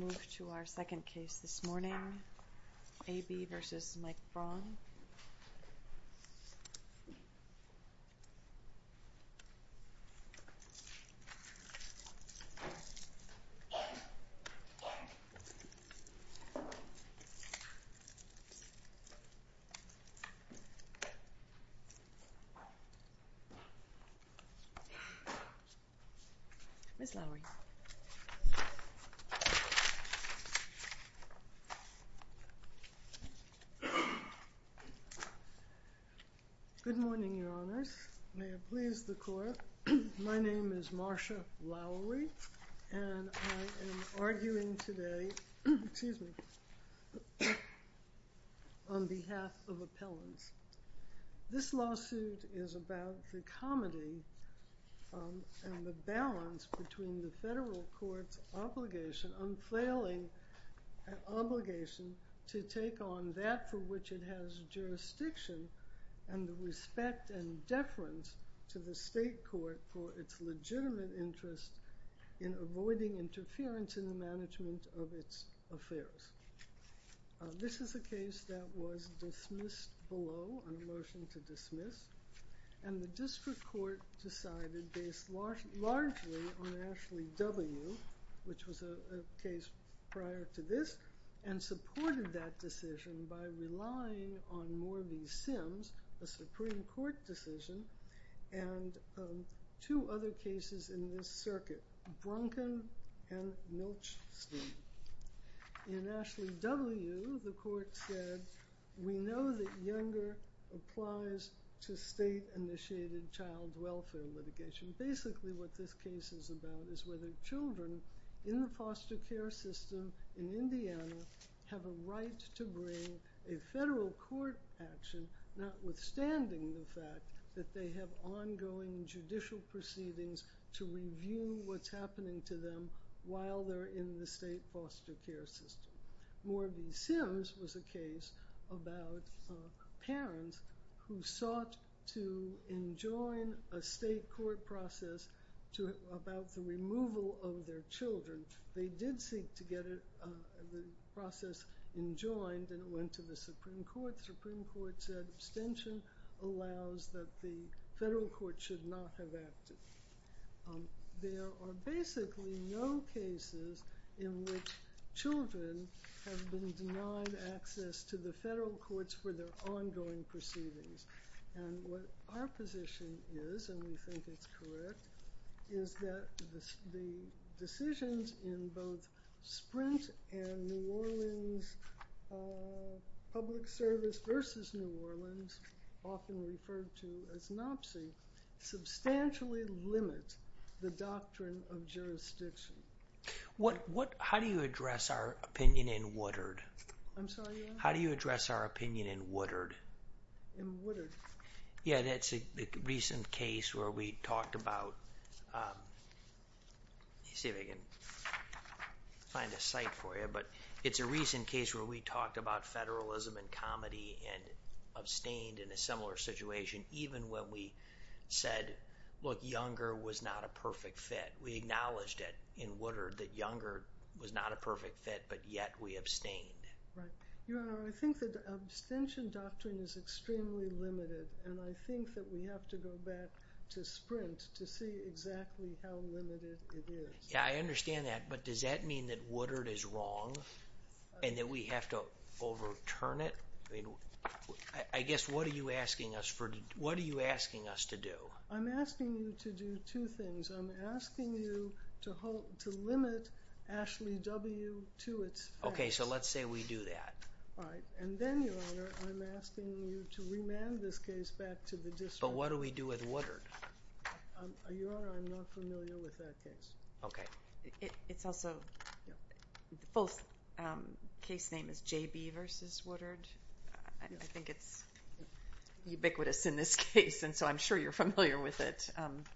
We'll move to our second case this morning, A.B. v. Mike Braun. Ms. Lowery. Good morning, Your Honors. May it please the Court, my name is Marcia Lowery, and I am arguing today on behalf of appellants. This lawsuit is about the comedy and the balance between the federal court's obligation, unfailing obligation, to take on that for which it has jurisdiction and the respect and deference to the state court for its legitimate interest in avoiding interference in the management of its affairs. This is a case that was dismissed below on a motion to dismiss, and the district court decided, based largely on Ashley W., which was a case prior to this, and supported that decision by relying on more of these Sims, a Supreme Court decision, and two other cases in this circuit, Brunken and Milchstein. In Ashley W., the court said, we know that Younger applies to state-initiated child welfare litigation. Basically what this case is about is whether children in the foster care system in Indiana have a right to bring a federal court action, notwithstanding the fact that they have ongoing judicial proceedings to review what's happening to them while they're in the state foster care system. More of these Sims was a case about parents who sought to enjoin a state court process about the removal of their children. They did seek to get the process enjoined, and it went to the Supreme Court. The Supreme Court said abstention allows that the federal court should not have acted. There are basically no cases where in which children have been denied access to the federal courts for their ongoing proceedings. And what our position is, and we think it's correct, is that the decisions in both Sprint and New Orleans Public Service versus New Orleans, often referred to as NOPC, substantially limit the doctrine of jurisdiction. How do you address our opinion in Woodard? It's a recent case where we talked about federalism and comedy and abstained in a similar situation even when we said, look, Younger was not a perfect fit. We acknowledged it in Woodard that Younger was not a perfect fit, but yet we abstained. Your Honor, I think that the abstention doctrine is extremely limited, and I think that we have to go back to Sprint to see exactly how limited it is. Yeah, I understand that, but does that mean that Woodard is wrong and that we have to overturn it? I mean, I guess what are you asking us to do? I'm asking you to do two things. I'm asking you to limit Ashley W. to its facts. Okay, so let's say we do that. All right, and then, Your Honor, I'm asking you to remand this case back to the district. But what do we do with Woodard? Your Honor, I'm not familiar with that case. Okay. It's also, the full case name is J.B. v. Woodard. I think it's ubiquitous in this case, and so I'm sure you're familiar with it.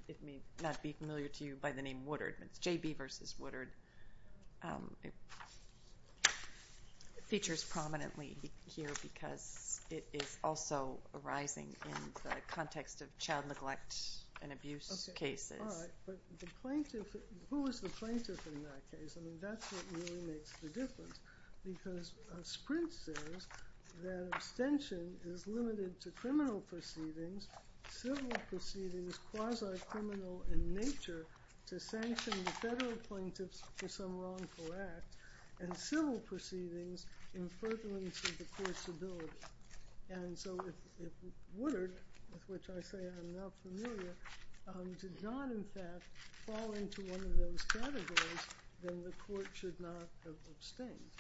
It may not be familiar to you by the name Woodard, but it's J.B. v. Woodard. It features prominently here because it is also arising in the context of child neglect and abuse cases. All right, but the plaintiff, who is the plaintiff in that case? I mean, that's what really makes the difference, because Sprint says that abstention is limited to criminal proceedings, civil proceedings, quasi-criminal in nature, to sanction the federal plaintiffs for some wrongful act, and civil proceedings in furtherance of the court's ability. And so if Woodard, with which I say I'm not familiar, did not in fact fall into one of those categories, then the court should not have abstained.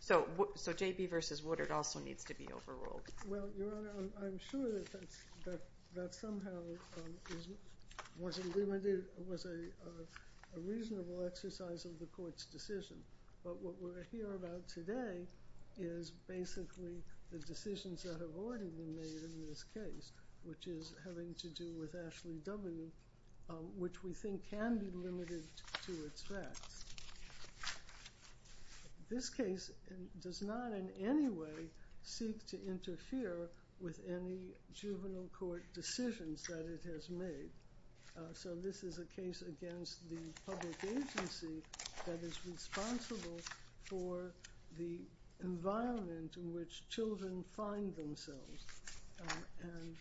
So J.B. v. Woodard also needs to be overruled. Well, Your Honor, I'm sure that somehow was a reasonable exercise of the court's decision, but what we're here about today is basically the decisions that have already been made in this case, which is having to do with Ashley W., which we think can be limited to its facts. This case does not in any way seek to interfere with any juvenile court decisions that it has made. So this is a case against the public agency that is responsible for the environment in which children find themselves. And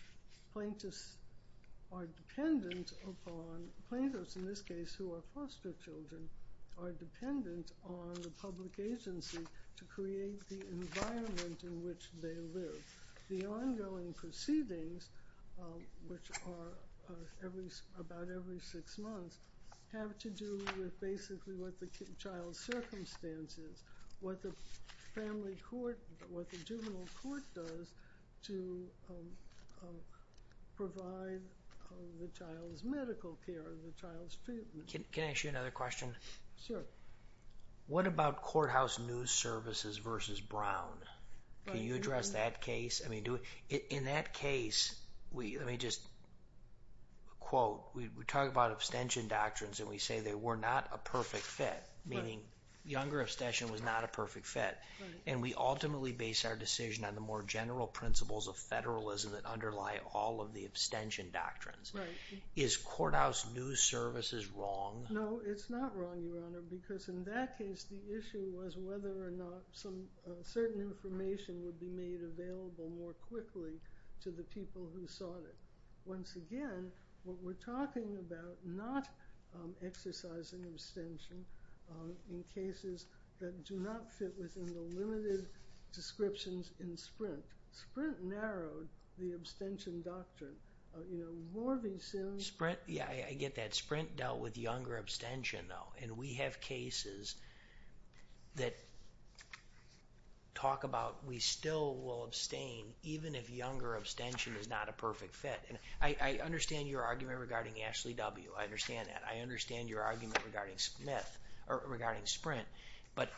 plaintiffs are dependent upon, plaintiffs in this case who are foster children, are dependent on the public agency to create the environment in which they live. The ongoing proceedings, which are about every six months, have to do with basically what the child's circumstance is, what the family court, what the juvenile court does to provide the child's medical care, the child's treatment. Can I ask you another question? Sure. What about courthouse news services versus Brown? Can you address that case? I mean, in that case, let me just quote, we talk about abstention doctrines and we say they were not a perfect fit, meaning younger abstention was not a perfect fit. And we ultimately base our decision on the more general principles of federalism that underlie all of the abstention doctrines. Is courthouse news services wrong? No, it's not wrong, Your Honor, because in that case, the issue was whether or not some certain information would be made available more quickly to the people who sought it. Once again, what we're talking about, not exercising abstention in cases that do not fit within the limited descriptions in Sprint. Sprint narrowed the abstention doctrine. You know, Morvey soon... Sprint, yeah, I get that. Sprint dealt with younger abstention, though, and we have cases that talk about we still will abstain even if younger abstention is not a perfect fit. And I understand your argument regarding Ashley W. I understand that. I understand your argument regarding Sprint. But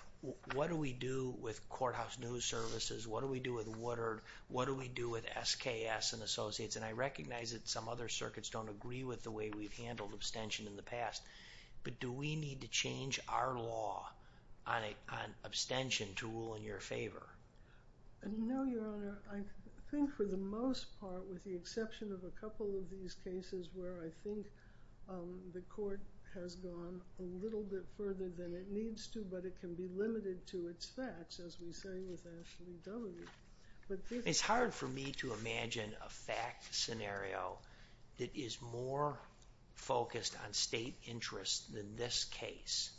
what do we do with courthouse news services? What do we do with Woodard? What do we do with SKS and Associates? And I recognize that some other circuits don't agree with the way we've handled abstention in the past. But do we need to change our law on abstention to rule in your favor? No, Your Honor. I think for the most part, with the exception of a couple of these cases where I think the court has gone a little bit further than it needs to, but it can be It's hard for me to imagine a fact scenario that is more focused on state interest than this case.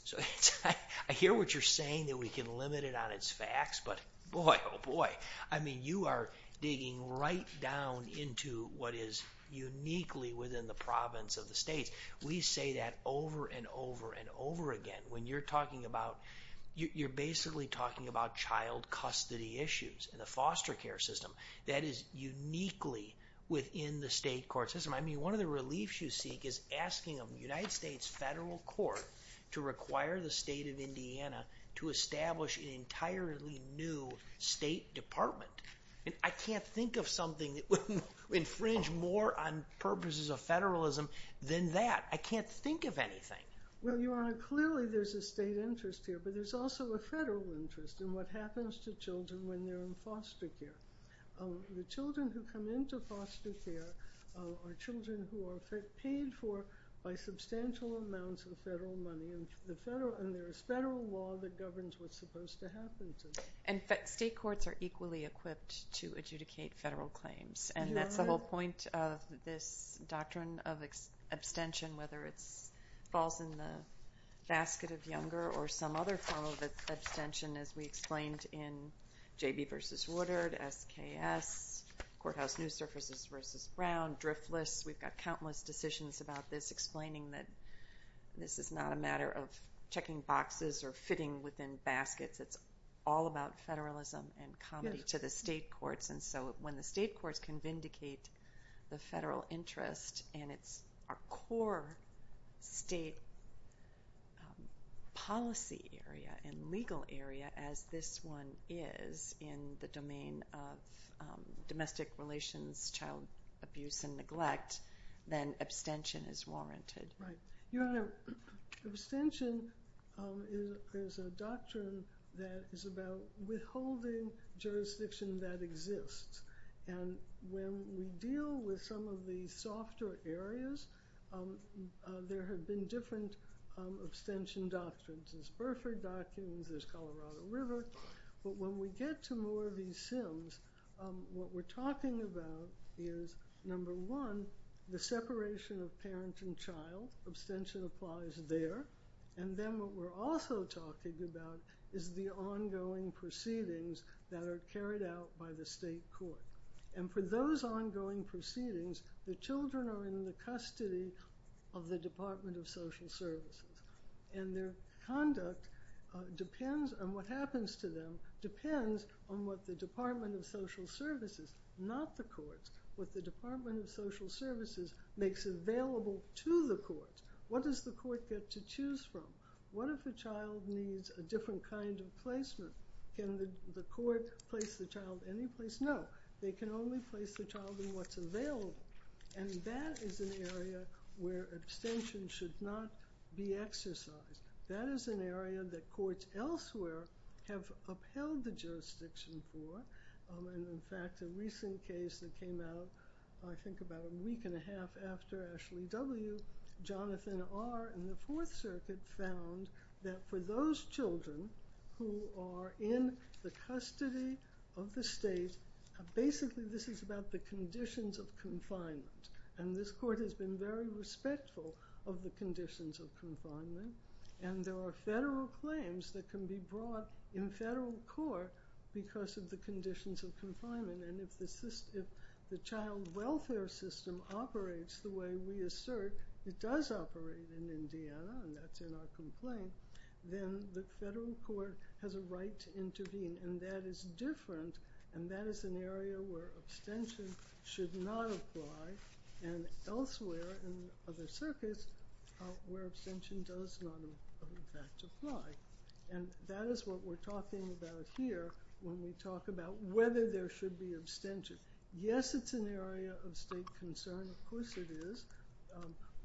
I hear what you're saying that we can limit it on its facts, but boy, oh boy. I mean, you are digging right down into what is uniquely within the province of the states. We say that over and over and over again. When you're talking about, you're basically talking about child custody issues and the foster care system. That is uniquely within the state court system. I mean, one of the reliefs you seek is asking a United States federal court to require the state of Indiana to establish an entirely new state department. I can't think of something that would infringe more on purposes of federalism than that. I can't think of anything. Well, Your Honor, clearly there's a state interest here, but there's also a federal interest in what happens to children when they're in foster care. The children who come into foster care are children who are paid for by substantial amounts of federal money, and there is federal law that governs what's supposed to happen to them. In fact, state courts are equally equipped to adjudicate federal claims, and that's the The whole point of this doctrine of abstention, whether it falls in the basket of younger or some other form of abstention, as we explained in J.B. v. Woodard, S.K.S., Courthouse News Services v. Brown, Driftless. We've got countless decisions about this explaining that this is not a matter of checking boxes or fitting within baskets. It's all about federalism and comedy to the state courts, and so when the state courts can vindicate the federal interest and it's a core state policy area and legal area, as this one is in the domain of domestic relations, child abuse, and neglect, then abstention is warranted. Right. Your Honor, abstention is a doctrine that is about withholding jurisdiction that exists, and when we deal with some of the softer areas, there have been different abstention doctrines. There's Burford doctrines, there's Colorado River, but when we get to more of what we're talking about is, number one, the separation of parent and child. Abstention applies there, and then what we're also talking about is the ongoing proceedings that are carried out by the state court, and for those ongoing proceedings, the children are in the custody of the Department of Social Services, and their conduct depends on what happens to them depends on what the Department of Social Services, not the courts, what the Department of Social Services makes available to the courts. What does the court get to choose from? What if a child needs a different kind of placement? Can the court place the child any place? No. They can only place the child in what's available, and that is an area where abstention should not be exercised. That is an area that courts elsewhere have upheld the jurisdiction for, and in fact, a recent case that came out, I think, about a week and a half after Ashley W., Jonathan R. and the Fourth Circuit found that for those children who are in the custody of the state, basically this is about the conditions of confinement, and there are federal claims that can be brought in federal court because of the conditions of confinement, and if the child welfare system operates the way we assert it does operate in Indiana, and that's in our complaint, then the federal court has a right to intervene, and that is different, and that is an area where abstention should not apply, and elsewhere in other circuits where abstention does not, in fact, apply, and that is what we're talking about here when we talk about whether there should be abstention. Yes, it's an area of state concern. Of course it is,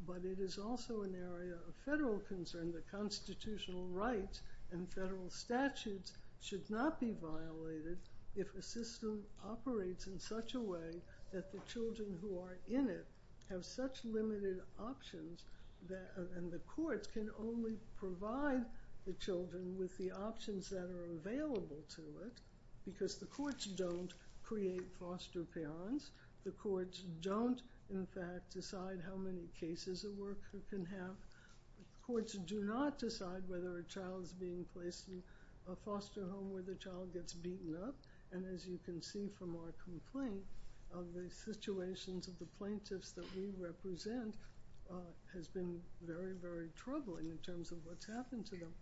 but it is also an area of federal concern that constitutional rights and federal statutes should not be violated if a system operates in such a way that the children who are in it have such limited options and the courts can only provide the children with the options that are available to it because the courts don't create foster parents. The courts don't, in fact, decide how many cases a worker can have. Courts do not decide whether a child is being placed in a foster home where the child gets beaten up, and as you can see from our complaint, the situations of the plaintiffs that we represent has been very, very troubling in terms of what's happened to them.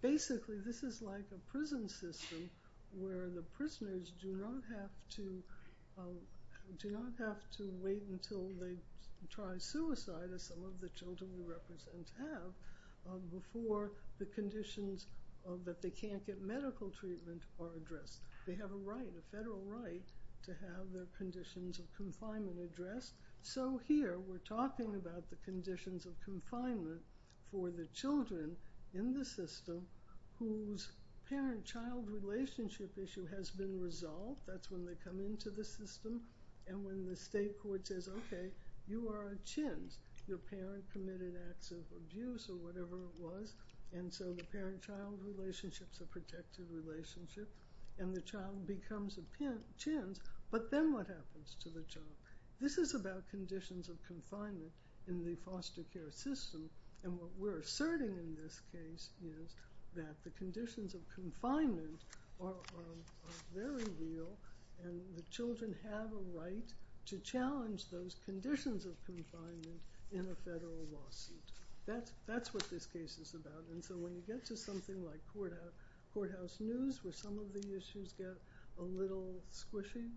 Basically this is like a prison system where the prisoners do not have to wait until they try suicide, as some of the children we represent have, before the conditions that they can't get medical treatment are addressed. They have a right, a federal right, to have their conditions of confinement addressed. So here we're talking about the conditions of confinement for the children in the system whose parent-child relationship issue has been resolved. That's when they come into the system, and when the state court says, okay, you are a chintz. Your parent committed acts of abuse or whatever it was, and so the parent-child relationship is a protected relationship, and the child becomes a chintz, but then what happens to the child? This is about conditions of confinement in the foster care system, and what we're asserting in this case is that the conditions of confinement are very real and the children have a right to challenge those conditions of confinement in a federal lawsuit. That's what this case is about, and so when you get to something like courthouse news where some of the issues get a little squishy,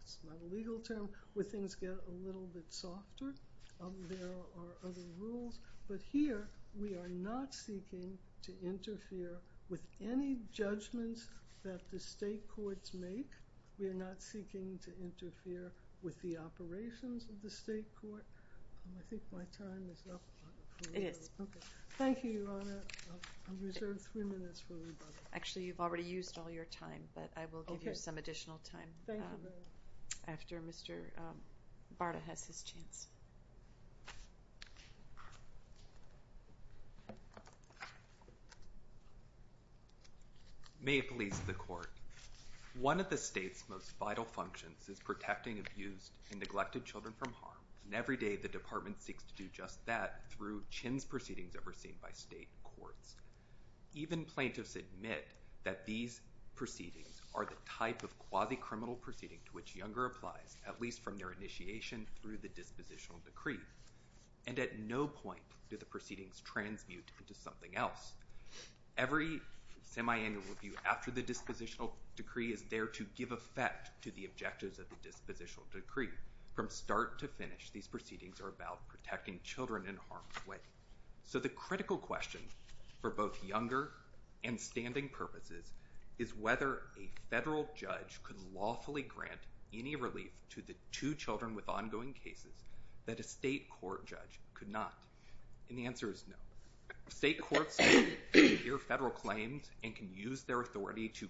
it's not a legal term, where things get a little bit softer, there are other rules, but here we are not seeking to interfere with any judgments that the state courts make. We are not seeking to interfere with the operations of the state court. I think my time is up. It is. Okay. Thank you, Your Honor. I reserve three minutes for rebuttal. Actually, you've already used all your time, but I will give you some additional time after Mr. Barta has his chance. May it please the Court. One of the state's most vital functions is protecting abused and neglected children from harm, and every day the Department seeks to do just that through chintz proceedings that were seen by state courts. Even plaintiffs admit that these proceedings are the type of quasi-criminal proceeding to which Younger applies, at least from their initiation through the dispositional decree, and at no point do the proceedings transmute into something else. Every semiannual review after the dispositional decree is there to give effect to the objectives of the dispositional decree. From start to finish, these proceedings are about protecting children in harm's way. So the critical question for both Younger and standing purposes is whether a federal judge could lawfully grant any relief to the two children with ongoing cases that a state court judge could not. And the answer is no. State courts can adhere to federal claims and can use their authority to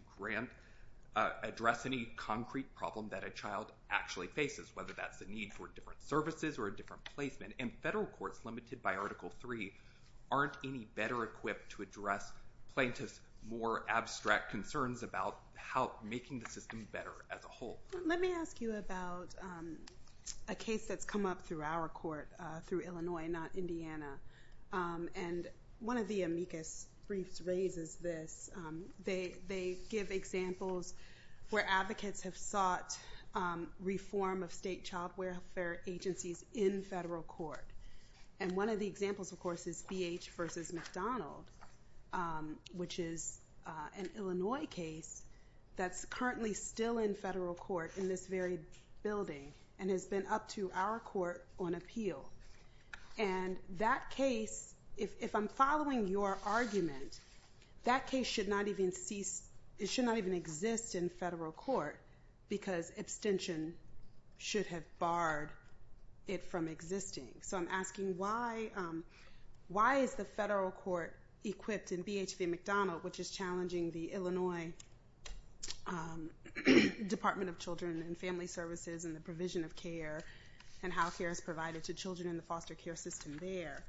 address any concrete problem that a child actually faces, whether that's a need for different services or a different placement. And federal courts limited by Article III aren't any better equipped to address plaintiffs' more abstract concerns about making the system better as a whole. Let me ask you about a case that's come up through our court, through Illinois, not Indiana. And one of the amicus briefs raises this. They give examples where advocates have sought reform of state child welfare agencies in federal court. And one of the examples, of course, is BH v. McDonald, which is an Illinois case that's currently still in federal court in this very building and has been up to our court on appeal. And that case, if I'm following your argument, that case should not even exist in federal court because abstention should have barred it from existing. So I'm asking why is the federal court equipped in BH v. McDonald, which is challenging the Illinois Department of Children and Family Services and the provision of care and how care is provided to children in the foster care system there,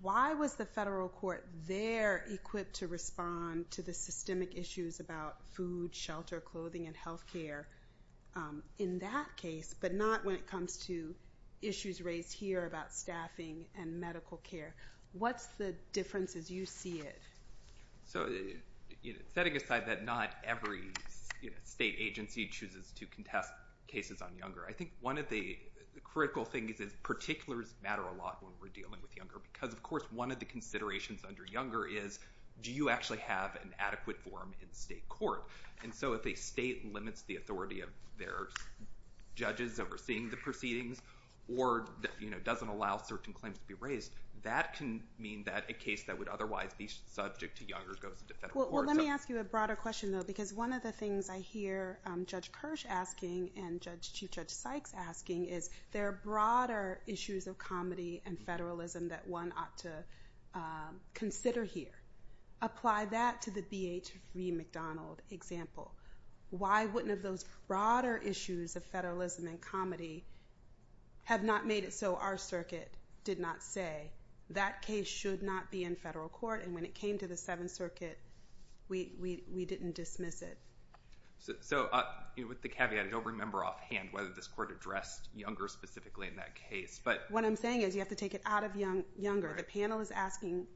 why was the federal court there equipped to respond to the systemic issues about food, shelter, clothing, and health care in that case, but not when it came up through our court? What are the differences? You see it. So setting aside that not every state agency chooses to contest cases on younger, I think one of the critical things is particulars matter a lot when we're dealing with younger because, of course, one of the considerations under younger is do you actually have an adequate forum in state court? And so if a state limits the authority of their judges overseeing the case that would otherwise be subject to younger goes into federal court. Well, let me ask you a broader question, though, because one of the things I hear Judge Kirsch asking and Chief Judge Sykes asking is there are broader issues of comedy and federalism that one ought to consider here. Apply that to the BH v. McDonald example. Why wouldn't of those broader issues of federalism and comedy have not made it so our circuit did not say that case should not be in federal court and when it came to the Seventh Circuit we didn't dismiss it? So with the caveat, I don't remember offhand whether this court addressed younger specifically in that case, but... What I'm saying is you have to take it out of younger. The panel is asking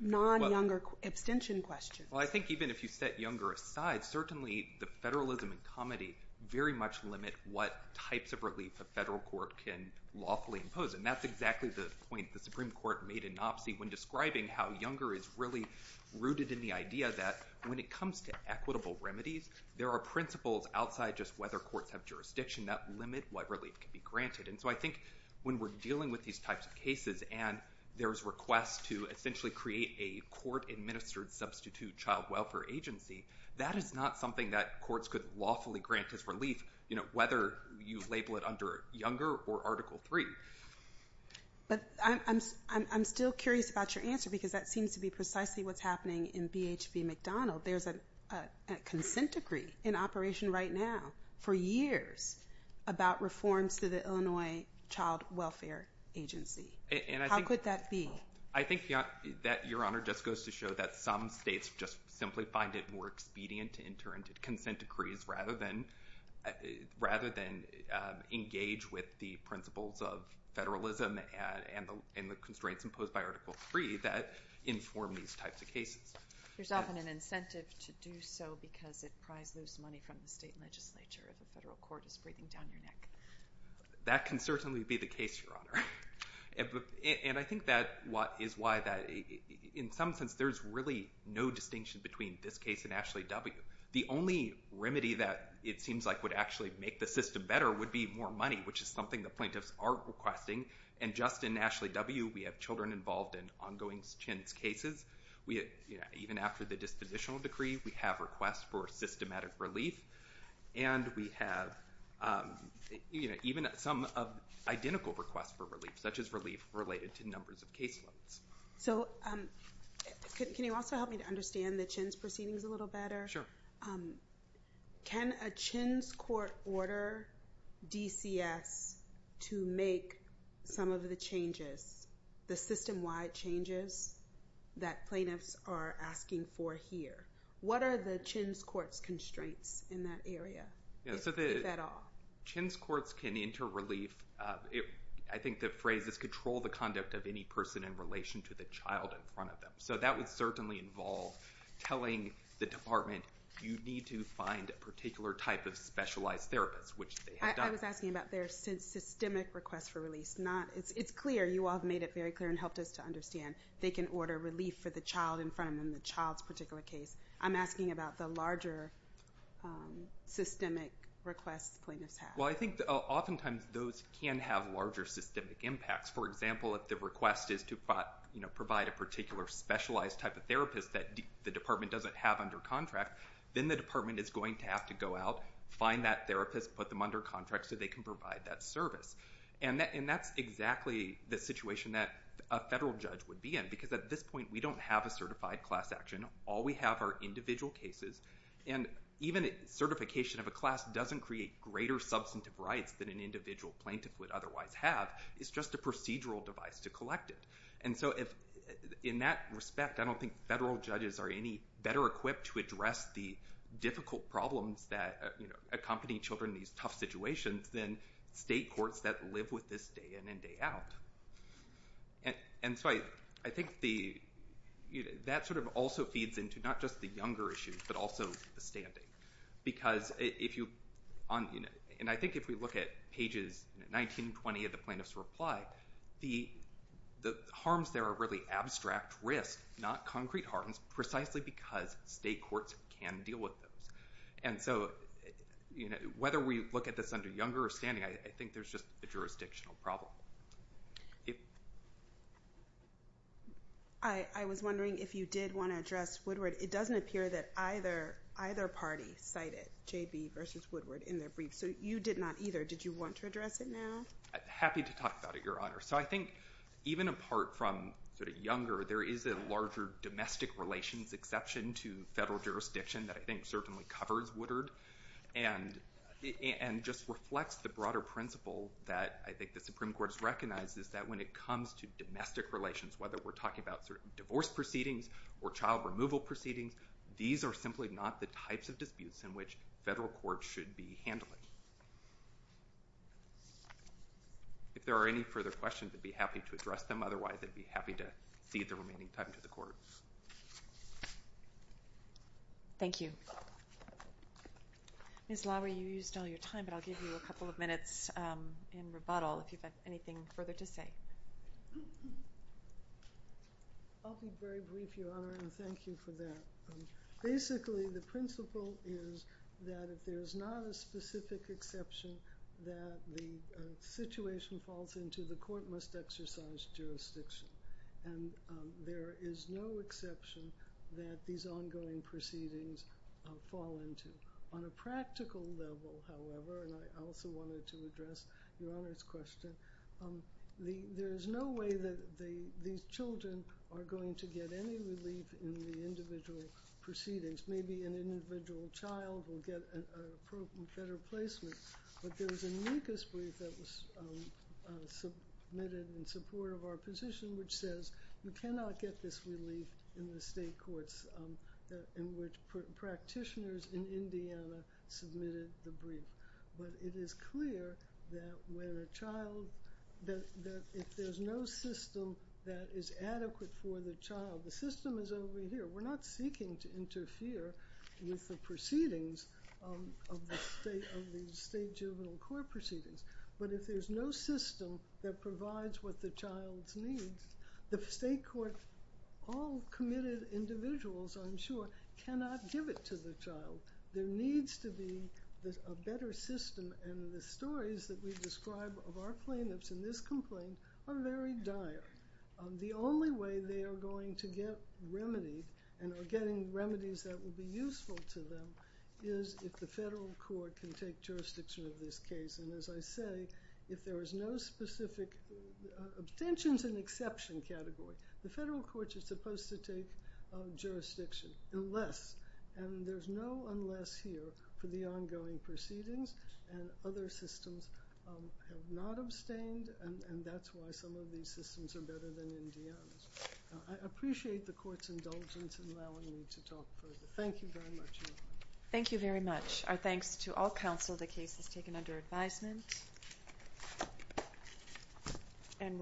non-younger abstention questions. Well, I think even if you set younger aside, certainly the federalism and comedy very much limit what types of relief a federal court can lawfully impose. And that's exactly the point the Supreme Court made in NOPC when describing how younger is really rooted in the idea that when it comes to equitable remedies, there are principles outside just whether courts have jurisdiction that limit what relief can be granted. And so I think when we're dealing with these types of cases and there's requests to essentially create a court-administered substitute child welfare agency, that is not something that whether you label it under younger or Article III. But I'm still curious about your answer because that seems to be precisely what's happening in BHP McDonald. There's a consent decree in operation right now for years about reforms to the Illinois Child Welfare Agency. How could that be? I think that, Your Honor, just goes to show that some states just simply find it more expedient to enter into consent decrees rather than engage with the principles of federalism and the constraints imposed by Article III that inform these types of cases. There's often an incentive to do so because it pries loose money from the state legislature if a federal court is breathing down your neck. That can certainly be the case, Your Honor. And I think that is why, in some sense, there's really no distinction between this case and Ashley W. The only remedy that it seems like would actually make the system better would be more money, which is something the plaintiffs are requesting. And just in Ashley W, we have children involved in ongoing CHINS cases. Even after the dispositional decree, we have requests for systematic relief. And we have even some identical requests for relief, such as relief related to numbers of caseloads. So can you also help me to understand the CHINS proceedings a little better? Can a CHINS court order DCS to make some of the changes, the system-wide changes, that plaintiffs are asking for here? What are the CHINS court's constraints in that area, if at all? CHINS courts can enter relief. I think the phrase is, control the conduct of any person in relation to the child in front of them. So that would certainly involve telling the department, you need to find a particular type of specialized therapist, which they have done. I was asking about their systemic requests for release. It's clear. You all have made it very clear and helped us to understand. They can order relief for the child in front of them, the child's particular case. I'm asking about the larger systemic requests plaintiffs have. Well, I think oftentimes those can have larger systemic impacts. For example, if the request is to provide a particular specialized type of therapist that the department doesn't have under contract, then the department is going to have to go out, find that therapist, put them under contract so they can provide that service. And that's exactly the situation that a federal judge would be in. Because at this point, we don't have a certified class action. All we have are individual cases. And even certification of a class doesn't create greater substantive rights than an individual plaintiff would otherwise have. It's just a procedural device to collect it. And so in that respect, I don't think federal judges are any better equipped to address the difficult problems that accompany children in these tough situations than state courts that live with this day in and day out. And so I think that sort of also feeds into not just the younger issues but also the standing. Because if you... And I think if we look at pages 19 and 20 of the plaintiff's reply, the harms there are really abstract risks, not concrete harms, precisely because state courts can deal with those. And so whether we look at this under younger or standing, I think there's just a jurisdictional problem. If... I was wondering if you did want to address Woodward. It doesn't appear that either party cited J.B. versus Woodward in their briefs. So you did not either. Did you want to address it now? Happy to talk about it, Your Honor. So I think even apart from sort of younger, there is a larger domestic relations exception to federal jurisdiction that I think certainly covers Woodward and just reflects the broader principle that I think the Supreme Court has recognized is that when it comes to domestic relations, whether we're talking about divorce proceedings or child removal proceedings, these are simply not the types of disputes in which federal courts should be handling. If there are any further questions, I'd be happy to address them. Otherwise, I'd be happy to cede the remaining time to the court. Thank you. Ms. Lowery, you used all your time, but I'll give you a couple of minutes in rebuttal if you've got anything further to say. I'll be very brief, Your Honor, and thank you for that. Basically, the principle is that if there's not a specific exception that the situation falls into, the court must exercise jurisdiction. And there is no exception that these ongoing proceedings fall into. On a practical level, however, and I also wanted to address Your Honor's question, there is no way that these children are going to get any relief in the individual proceedings. Maybe an individual child will get a better placement, but there was an amicus brief that was submitted in support of our position which says you cannot get this relief in the state courts in which practitioners in Indiana submitted the brief. But it is clear that when a child... that if there's no system that is adequate for the child, the system is over here. We're not seeking to interfere with the proceedings of the state juvenile court proceedings. But if there's no system that provides what the child needs, the state court, all committed individuals, I'm sure, cannot give it to the child. There needs to be a better system, and the stories that we describe of our plaintiffs in this complaint are very dire. The only way they are going to get remedied and are getting remedies that will be useful to them is if the federal court can take jurisdiction of this case. And as I say, if there is no specific... Obtention's an exception category. The federal court is supposed to take jurisdiction unless, and there's no unless here, for the ongoing proceedings, and other systems have not abstained, and that's why some of these systems are better than Indiana's. I appreciate the court's indulgence in allowing me to talk further. Thank you very much. Thank you very much. Our thanks to all counsel. The case is taken under advisement. Thank you.